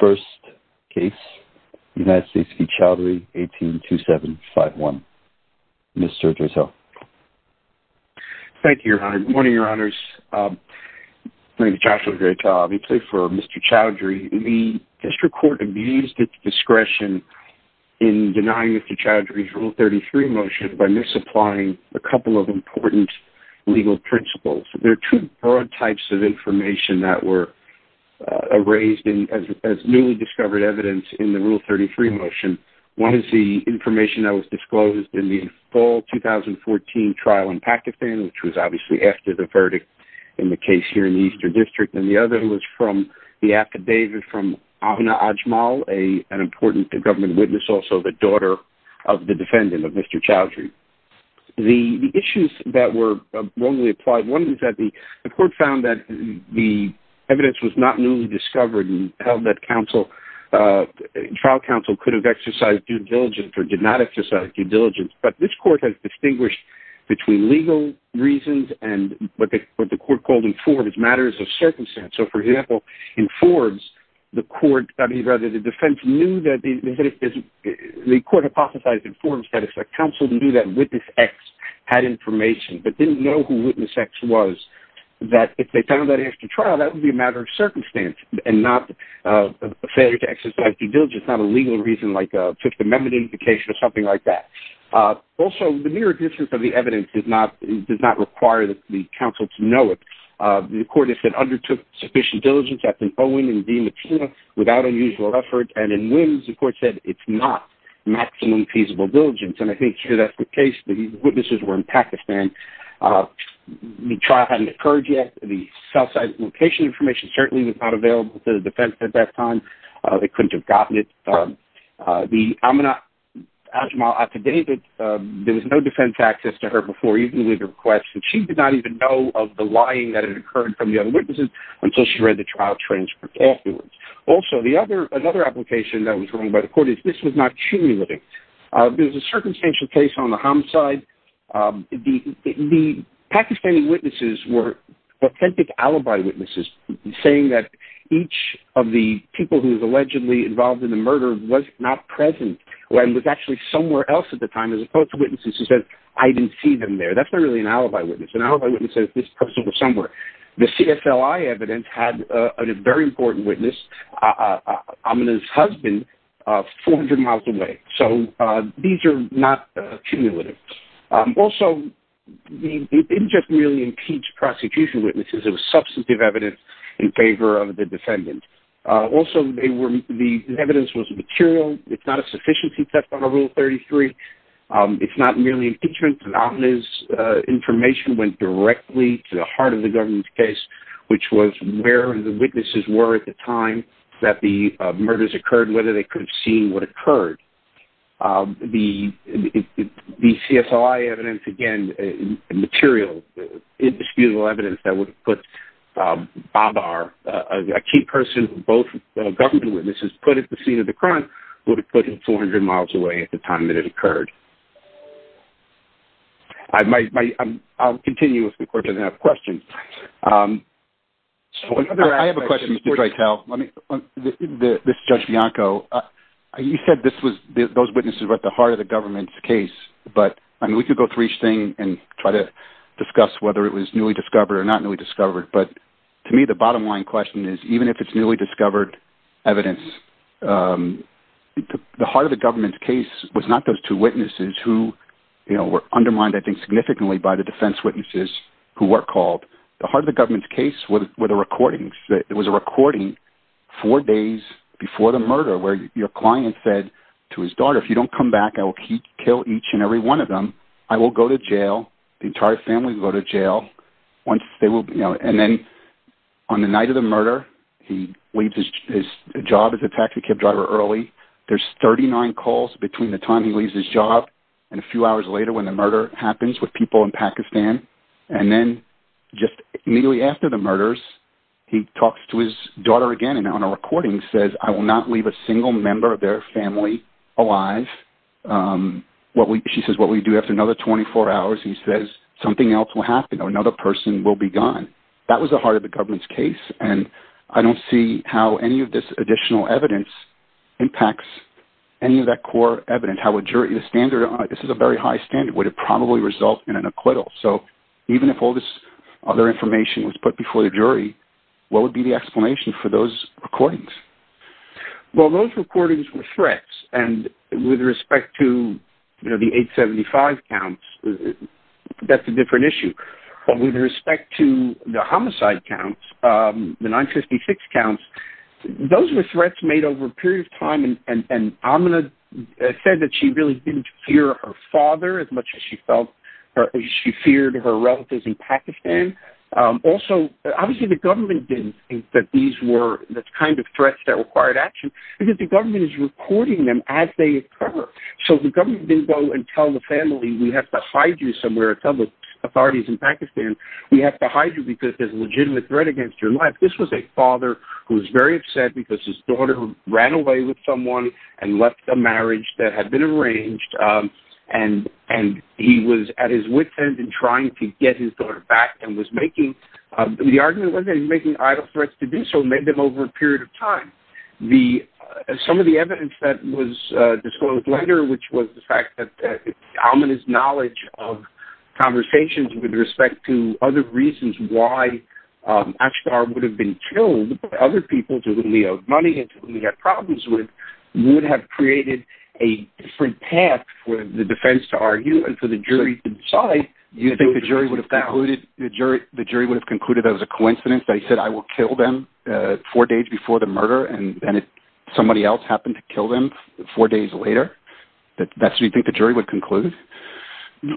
182751. Mr. Dressel. Thank you, Your Honor. Good morning, Your Honors. Thank you, Joshua. Great job. We plead for Mr. Choudhry. The District Court abused its discretion in denying Mr. Choudhry's Rule 33 motion by misapplying a couple of important legal principles. There are two newly discovered evidence in the Rule 33 motion. One is the information that was disclosed in the fall 2014 trial in Pakistan, which was obviously after the verdict in the case here in the Eastern District, and the other was from the affidavit from Ahna Ajmal, an important government witness, also the daughter of the defendant, of Mr. Choudhry. The issues that were wrongly applied, one was that the court found that the evidence was not newly discovered and held that trial counsel could have exercised due diligence or did not exercise due diligence, but this court has distinguished between legal reasons and what the court called in Forbes matters of circumstance. So, for example, in Forbes, the defense knew that the court hypothesized in Forbes that if a counsel knew that witness X had information but didn't know who witness X was, that if they found that after trial, that would be a matter of circumstance and not a failure to exercise due diligence, not a legal reason like a Fifth Amendment indication or something like that. Also, the mere existence of the evidence does not require that the counsel to know it. The court has said undertook sufficient diligence, that's an O-win and D-matina, without unusual effort, and in whims, the court said it's not maximum feasible diligence, and I think that's the case. The witnesses were in Pakistan. The trial hadn't occurred yet. The south side location information certainly was not available to the defense at that time. They couldn't have gotten it. The Amina Ajmal Atta David, there was no defense access to her before even with her request, and she did not even know of the lying that had occurred from the other witnesses until she read the trial transcript afterwards. Also, another application that was written by the court is this was not cumulative. There was a circumstantial case on the Homs side. The Pakistani witnesses were authentic alibi witnesses, saying that each of the people who was allegedly involved in the murder was not present and was actually somewhere else at the time as opposed to witnesses who said, I didn't see them there. That's not really an alibi witness. An alibi witness says this person was somewhere. The CFLI evidence had a very important witness, Amina's husband, 400 miles away. So these are not cumulative. Also, it didn't just merely impeach prosecution witnesses. It was substantive evidence in favor of the defendant. Also, the evidence was material. It's not a sufficiency theft under Rule 33. It's not merely impeachment. Amina's information went directly to the heart of the government's case, which was where the witnesses were at the time that the murders occurred, whether they could have seen what occurred. The CFLI evidence, again, material, indisputable evidence that would put Babar, a key person both government witnesses, put at the scene of the crime, would have put him 400 miles away at the time that it occurred. I'll continue if the court doesn't have questions. I have a question before I tell. This is Judge Bianco. You said those witnesses were at the heart of the government's case, but we could go through each thing and try to discuss whether it was newly discovered or not newly discovered. But to me, the bottom line question is, even if it's newly discovered evidence, the heart of the government's case was not those two witnesses who were undermined, I think, significantly by the defense witnesses who were called. The heart of the government's case was a recording four days before the murder where your client said to his daughter, if you don't come back, I will kill each and every one of them. I will go to jail. The entire family will go to jail. And then on the night of the murder, he leaves his job as a taxi cab driver early. There's 39 calls between the time he leaves his job and a few hours later when the murder happens with people in Pakistan. And then just immediately after the murders, he talks to his daughter again and on a recording says, I will not leave a single member of their family alive. She says, what we do after another 24 hours, he says, something else will happen or another person will be gone. That was the heart of the government's case. And I don't see how any of this additional evidence impacts any of that core evidence. How a jury, this is a very high standard, would it probably result in an acquittal? So even if all this other information was put before the jury, what would be the explanation for those recordings? Well, those recordings were threats. And with respect to the 875 counts, that's a different issue. But with respect to the homicide counts, the 956 counts, those were threats made over a period of time. And Amina said that she really didn't fear her father as much as she felt or she feared her relatives in Pakistan. Also, obviously, the government didn't think that these were the kind of threats that required action because the government is recording them as they occur. So the government didn't go and tell the family, we have to hide you somewhere, tell the authorities in Pakistan, we have to hide you because there's a legitimate threat against your life. This was a father who was very upset because his daughter ran away with someone and left a marriage that had been arranged. And he was at his wit's end in trying to get his daughter back and was making, the argument was that he was making idle threats to do so, maybe over a period of time. Some of the evidence that was disclosed later, which was the fact that Amina's knowledge of conversations with respect to other reasons why Ashtar would have been killed by other people to whom he owed money and to whom he had problems with, would have created a different path for the defense to argue and for the jury to decide You think the jury would have concluded that it was a coincidence that he said, I will kill them four days before the murder and then somebody else happened to kill them four days later? That's what you think the jury would conclude?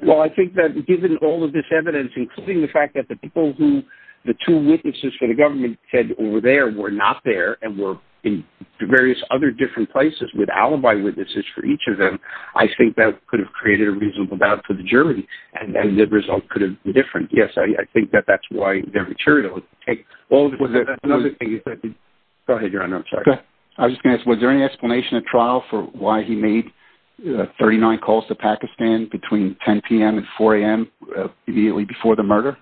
Well, I think that given all of this evidence, including the fact that the people who, the two witnesses for the government said over there were not there and were in various other different places with alibi witnesses for each of them, I think that could have created a reasonable doubt for the jury. And then the result could have been different. Yes, I think that that's why the jury would take all of it. Go ahead, Your Honor. I'm sorry. I was just going to ask, was there any explanation at trial for why he made 39 calls to Pakistan between 10 p.m. and 4 a.m. immediately before the murder?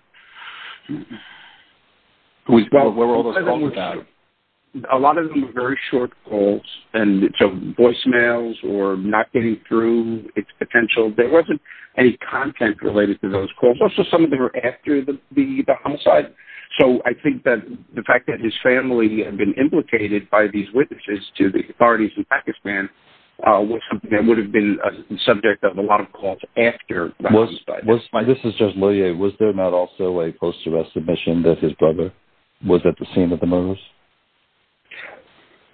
Where were all those calls about? A lot of them were very short calls, and so voicemails or not getting through its potential. There wasn't any content related to those calls. Also, some of them were after the homicide. So I think that the fact that his family had been implicated by these witnesses to the authorities in Pakistan was something that would have been a subject of a lot of calls after the homicide. This is Judge Loyer. Was there not also a post-arrest admission that his brother was at the scene of the murders?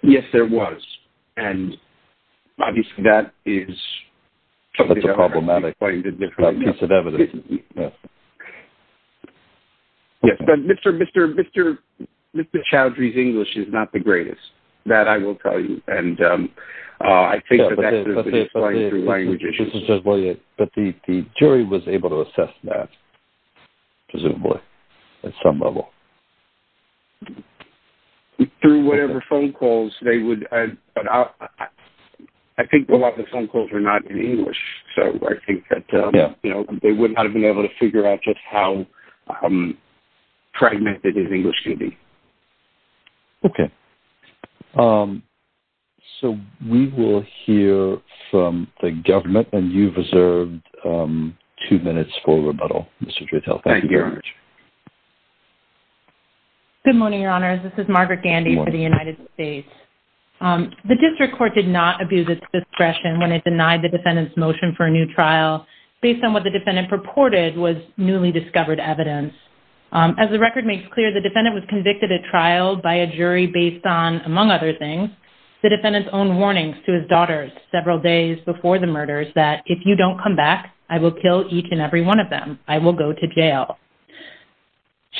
Yes, there was. Obviously, that is... That's a problematic piece of evidence. Mr. Chowdhury's English is not the greatest. That I will tell you. But the jury was able to assess that, presumably, at some level. Through whatever phone calls they would... I think a lot of the phone calls were not in English, so I think that they would not have been able to figure out just how fragmented his English can be. Okay. So we will hear from the government, and you've reserved two minutes for rebuttal, Mr. Drittel. Thank you very much. Thank you. Good morning, Your Honours. This is Margaret Gandy for the United States. The district court did not abuse its discretion when it denied the defendant's motion for a new trial based on what the defendant purported was newly discovered evidence. As the record makes clear, the defendant was convicted at trial by a jury based on, among other things, the defendant's own warnings to his daughters several days before the murders that, if you don't come back, I will kill each and every one of them. I will go to jail.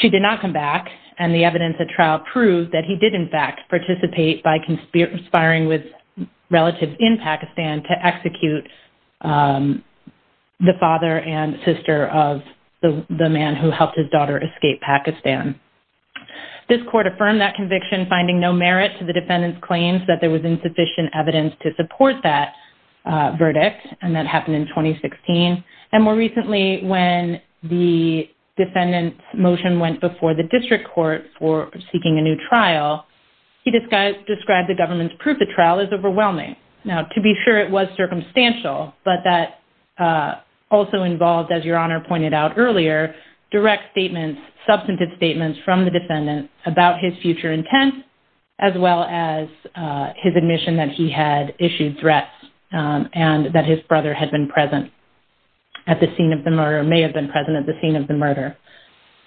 She did not come back, and the evidence at trial proved that he did, in fact, participate by conspiring with relatives in Pakistan to execute the father and sister of the man who helped his daughter escape Pakistan. This court affirmed that conviction, finding no merit to the defendant's claims that there was insufficient evidence to support that verdict, and that happened in 2016. And more recently, when the defendant's motion went before the district court for seeking a new trial, he described the government's proof the trial is overwhelming. Now, to be sure, it was circumstantial, but that also involved, as Your Honour pointed out earlier, direct statements, substantive statements from the defendant about his future intent, as well as his admission that he had issued threats and that his brother had been present. At the scene of the murder, may have been present at the scene of the murder.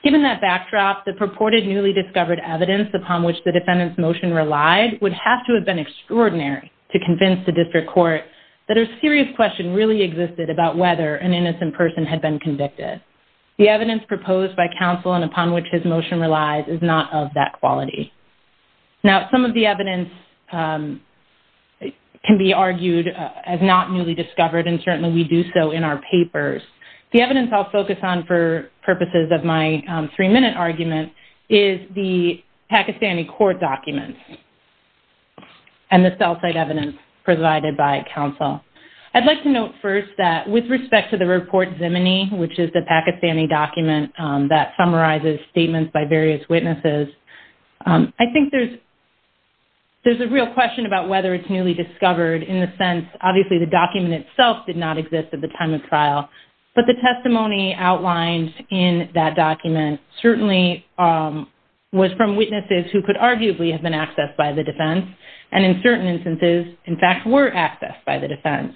Given that backdrop, the purported newly discovered evidence upon which the defendant's motion relied would have to have been extraordinary to convince the district court that a serious question really existed about whether an innocent person had been convicted. The evidence proposed by counsel and upon which his motion relies is not of that quality. Now, some of the evidence can be argued as not newly discovered, and certainly we do so in our papers. The evidence I'll focus on for purposes of my three-minute argument is the Pakistani court documents and the cell site evidence provided by counsel. I'd like to note first that with respect to the Report Zimini, which is the Pakistani document that summarizes statements by various witnesses, I think there's a real question about whether it's newly discovered in the sense, obviously the document itself did not exist at the time of trial, but the testimony outlined in that document certainly was from witnesses who could arguably have been accessed by the defense and in certain instances, in fact, were accessed by the defense.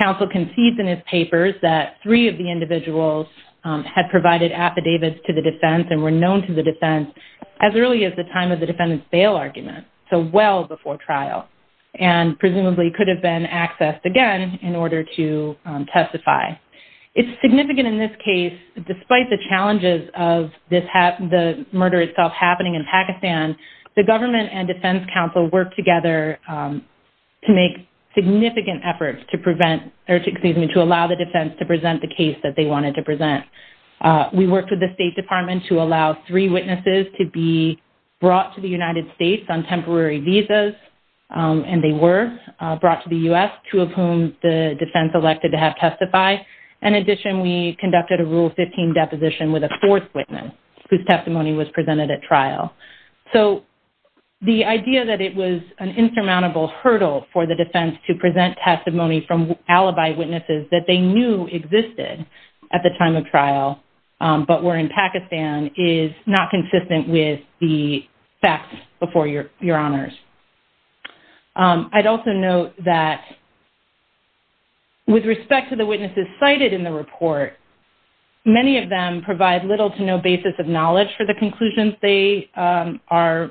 Counsel concedes in his papers that three of the individuals had provided affidavits to the defense and were known to the defense as early as the time of the defendant's bail argument, so well before trial, and presumably could have been accessed again in order to testify. It's significant in this case, despite the challenges of the murder itself happening in Pakistan, the government and defense counsel worked together to make significant efforts to prevent, or excuse me, to allow the defense to present the case that they wanted to present. We worked with the State Department to allow three witnesses to be brought to the United States on temporary visas, and they were brought to the U.S., two of whom the defense elected to have testify. In addition, we conducted a Rule 15 deposition with a fourth witness, whose testimony was presented at trial. So the idea that it was an insurmountable hurdle for the defense to present testimony from alibi witnesses that they knew existed at the time of trial, but were in Pakistan, is not consistent with the facts before your honors. I'd also note that with respect to the witnesses cited in the report, many of them provide little to no basis of knowledge for the conclusions they are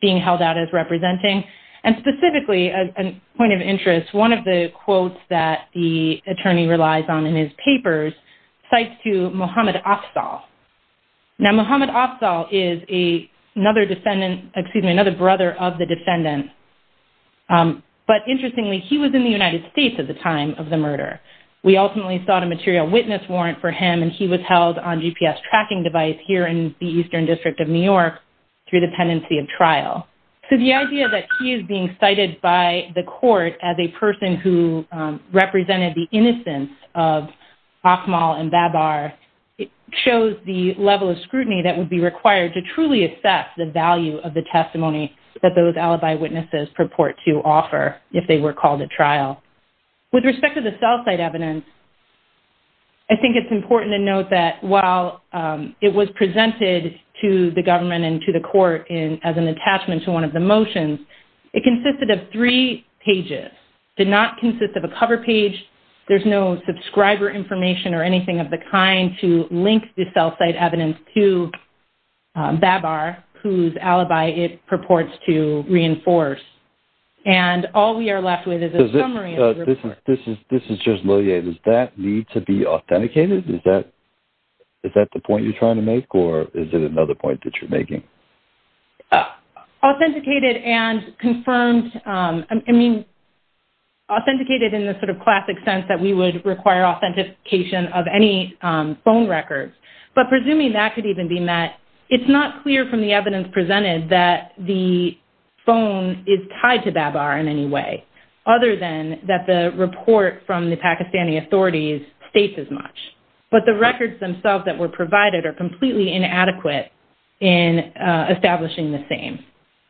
being held out as representing, and specifically, as a point of interest, one of the quotes that the attorney relies on in his papers cites to Mohammad Afzal. Now, Mohammad Afzal is another defendant, excuse me, another brother of the defendant, but interestingly, he was in the United States at the time of the murder. We ultimately sought a material witness warrant for him, and he was held on GPS tracking device here in the Eastern District of New York through the pendency of trial. So the idea that he is being cited by the court as a person who represented the innocence of Akmal and Babar shows the level of scrutiny that would be required to truly assess the value of the testimony that those alibi witnesses purport to offer if they were called at trial. With respect to the cell site evidence, I think it's important to note that while it was presented to the government and to the court as an attachment to one of the motions, it consisted of three pages. It did not consist of a cover page. There's no subscriber information or anything of the kind to link the cell site evidence to Babar, whose alibi it purports to reinforce. And all we are left with is a summary of the report. This is just liliate. Does that need to be authenticated? Is that the point you're trying to make, or is it another point that you're making? Authenticated and confirmed... Authenticated in the sort of classic sense that we would require authentication of any phone records, but presuming that could even be met, it's not clear from the evidence presented that the phone is tied to Babar in any way, other than that the report from the Pakistani authorities states as much. But the records themselves that were provided are completely inadequate in establishing the same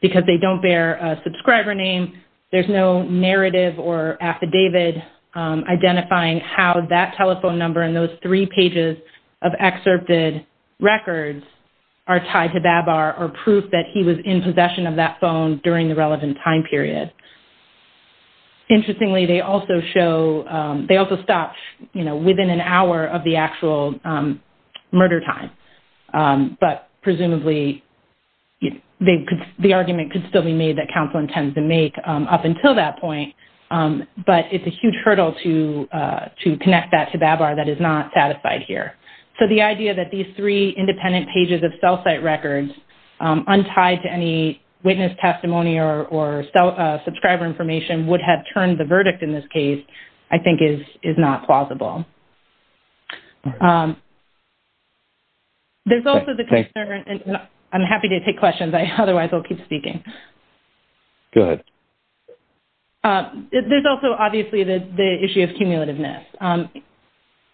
because they don't bear a subscriber name, there's no narrative or affidavit identifying how that telephone number and those three pages of excerpted records are tied to Babar or proof that he was in possession of that phone during the relevant time period. Interestingly, they also show, they also stop within an hour of the actual murder time, but presumably the argument could still be made that counsel intends to make up until that point, but it's a huge hurdle to connect that to Babar that is not satisfied here. So the idea that these three independent pages of cell site records, untied to any witness testimony or subscriber information, would have turned the verdict in this case, I think is not plausible. There's also the concern, and I'm happy to take questions, otherwise I'll keep speaking. Go ahead. There's also obviously the issue of cumulativeness.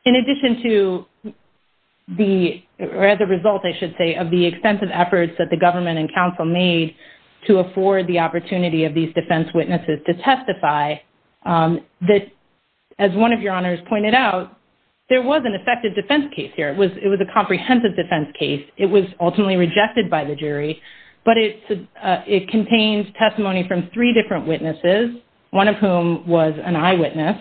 In addition to the, or as a result I should say, of the extensive efforts that the government and counsel made to afford the opportunity of these defense witnesses to testify, as one of your honors pointed out, there was an effective defense case here. It was a comprehensive defense case. It was ultimately rejected by the jury, but it contains testimony from three different witnesses, one of whom was an eyewitness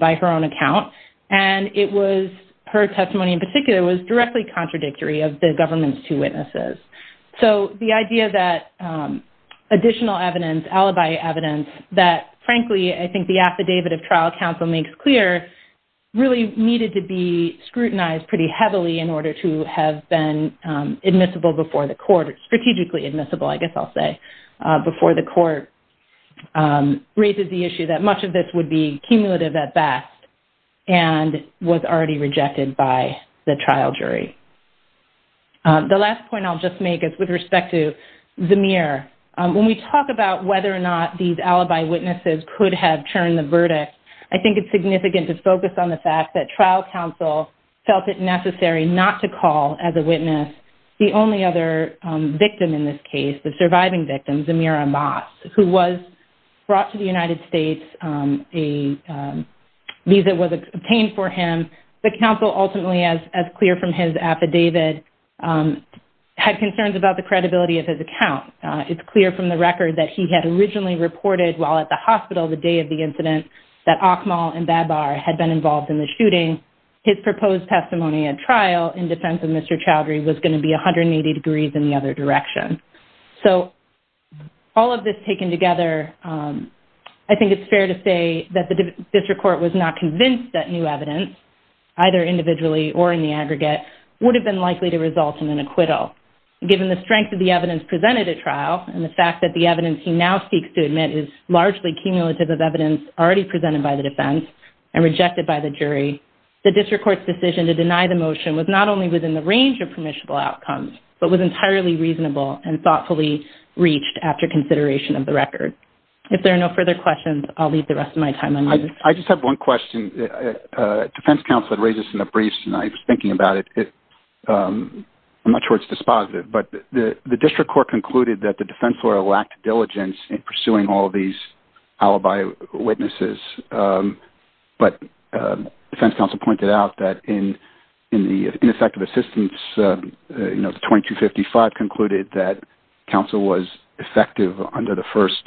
by her own account, and it was, her testimony in particular, was directly contradictory of the government's two witnesses. So the idea that additional evidence, alibi evidence, that frankly I think the affidavit of trial counsel makes clear really needed to be scrutinized pretty heavily in order to have been admissible before the court, strategically admissible, I guess I'll say, before the court raises the issue that much of this would be cumulative at best and was already rejected by the trial jury. The last point I'll just make is with respect to Zamir. When we talk about whether or not these alibi witnesses could have churned the verdict, I think it's significant to focus on the fact that trial counsel felt it necessary not to call as a witness the only other victim in this case, the surviving victim, Zamir Amas, who was brought to the United States. A visa was obtained for him. The counsel ultimately, as clear from his affidavit, had concerns about the credibility of his account. It's clear from the record that he had originally reported while at the hospital the day of the incident that Akmal and Babar had been involved in the shooting. His proposed testimony at trial in defense of Mr. Chowdhury was going to be 180 degrees in the other direction. So all of this taken together, I think it's fair to say that the district court was not convinced that new evidence, either individually or in the aggregate, would have been likely to result in an acquittal. Given the strength of the evidence presented at trial and the fact that the evidence he now seeks to admit is largely cumulative of evidence already presented by the defense and rejected by the jury, the district court's decision to deny the motion was not only within the range of permissible outcomes, but was entirely reasonable and thoughtfully reached after consideration of the record. If there are no further questions, I'll leave the rest of my time on you. I just have one question. Defense counsel had raised this in the briefs tonight. I was thinking about it. I'm not sure it's dispositive, but the district court concluded that the defense lawyer lacked diligence in pursuing all these alibi witnesses. But defense counsel pointed out that in the ineffective assistance, the 2255 concluded that counsel was effective under the first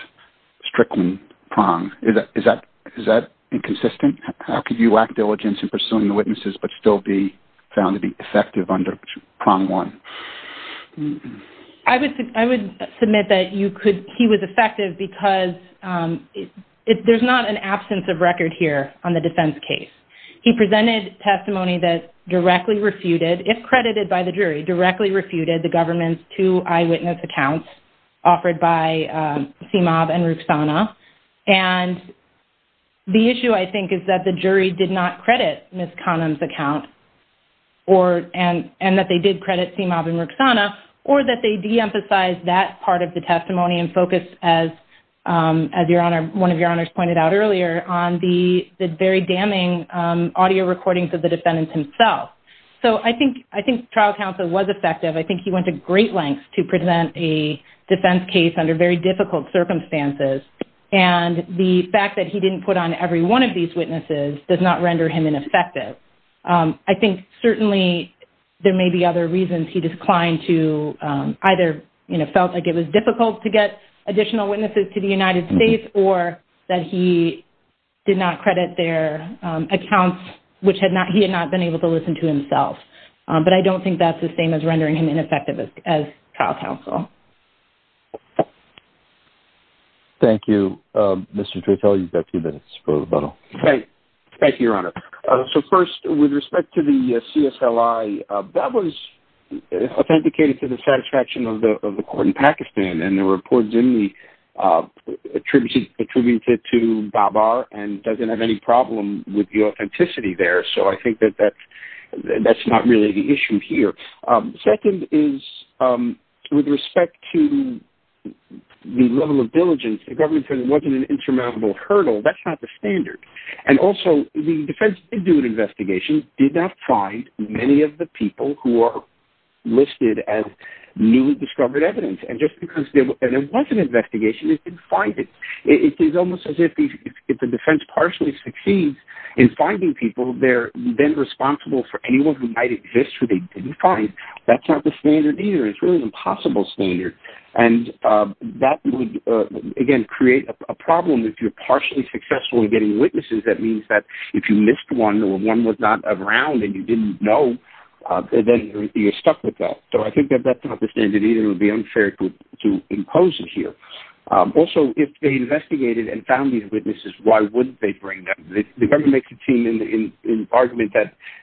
Strickland prong. Is that inconsistent? How could you lack diligence in pursuing the witnesses but still be found to be effective under prong one? I would submit that he was effective because there's not an absence of record here on the defense case. He presented testimony that directly refuted, if credited by the jury, directly refuted the government's two eyewitness accounts offered by Simab and Rukhsana. And the issue, I think, is that the jury did not credit Ms. Connum's account and that they did credit Simab and Rukhsana or that they de-emphasized that part of the testimony and focused, as one of your honors pointed out earlier, on the very damning audio recordings of the defendant himself. So I think trial counsel was effective. I think he went to great lengths to present a defense case under very difficult circumstances. And the fact that he didn't put on every one of these witnesses does not render him ineffective. I think certainly there may be other reasons he declined to either, you know, felt like it was difficult to get additional witnesses to the United States or that he did not credit their accounts, which he had not been able to listen to himself. But I don't think that's the same as rendering him ineffective as trial counsel. Thank you. Mr. Treitel, you've got a few minutes for rebuttal. Thank you, Your Honor. So first, with respect to the CSLI, that was authenticated to the satisfaction of the court in Pakistan, and the report is only attributed to Babar and doesn't have any problem with the authenticity there. So I think that that's not really the issue here. Second is, with respect to the level of diligence, the government said it wasn't an insurmountable hurdle. That's not the standard. And also, the defense did do an investigation, did not find many of the people who are listed as newly discovered evidence. And just because there was an investigation, it didn't find it. It's almost as if the defense partially succeeds in finding people, they're then responsible for anyone who might exist who they didn't find. That's not the standard either. It's really an impossible standard. And that would, again, create a problem if you're partially successful in getting witnesses. That means that if you missed one or one was not around and you didn't know, then you're stuck with that. So I think that that's not the standard either. It would be unfair to impose it here. Also, if they investigated and found these witnesses, why wouldn't they bring them? The government makes a team in argument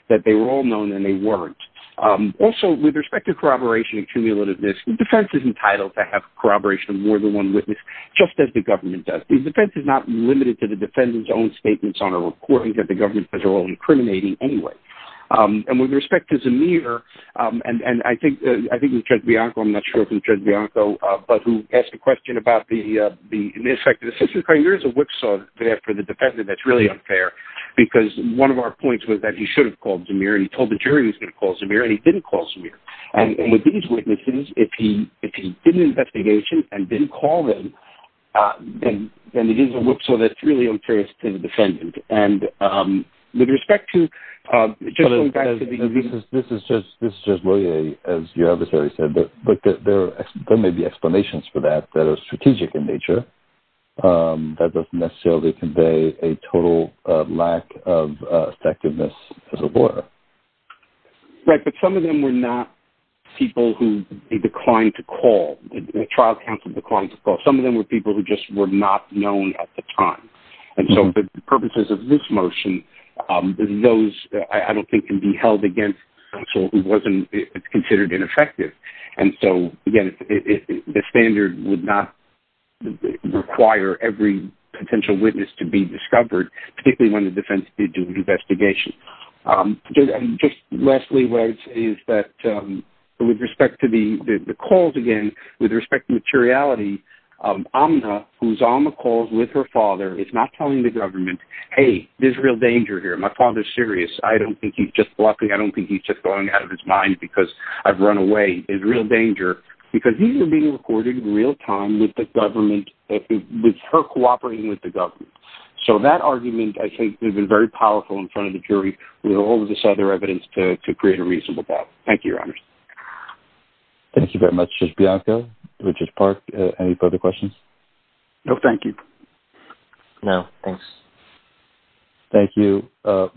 that they were all known and they weren't. Also, with respect to corroboration and cumulativeness, the defense is entitled to have corroboration of more than one witness, just as the government does. But the defense is not limited to the defendant's own statements on a recording that the government says are all incriminating anyway. And with respect to Zamir, and I think Judge Bianco, I'm not sure if it was Judge Bianco, but who asked a question about the ineffective assistant attorney, there is a whipsaw there for the defendant that's really unfair because one of our points was that he should have called Zamir and he told the jury he was going to call Zamir and he didn't call Zamir. And with these witnesses, if he did an investigation and didn't call them, then it is a whipsaw that's really unfair to the defendant. And with respect to Judge Loyer, as your adversary said, there may be explanations for that that are strategic in nature that doesn't necessarily convey a total lack of effectiveness as a lawyer. Right, but some of them were not people who declined to call, the trial counsel declined to call. Some of them were people who just were not known at the time. And so the purposes of this motion, those, I don't think, can be held against counsel who wasn't considered ineffective. And so, again, the standard would not require every potential witness to be discovered, particularly when the defense did do an investigation. And just lastly, Wes, is that with respect to the calls, again, with respect to materiality, Amna, who's on the calls with her father, is not telling the government, hey, there's real danger here. My father's serious. I don't think he's just bluffing. I don't think he's just going out of his mind because I've run away. There's real danger. Because these are being recorded in real time with the government, with her cooperating with the government. So that argument, I think, has been very powerful in front of the jury with all of this other evidence to create a reasonable doubt. Thank you, Your Honors. Thank you very much, Judge Bianco. Richard Park, any further questions? No, thank you. No, thanks. Thank you.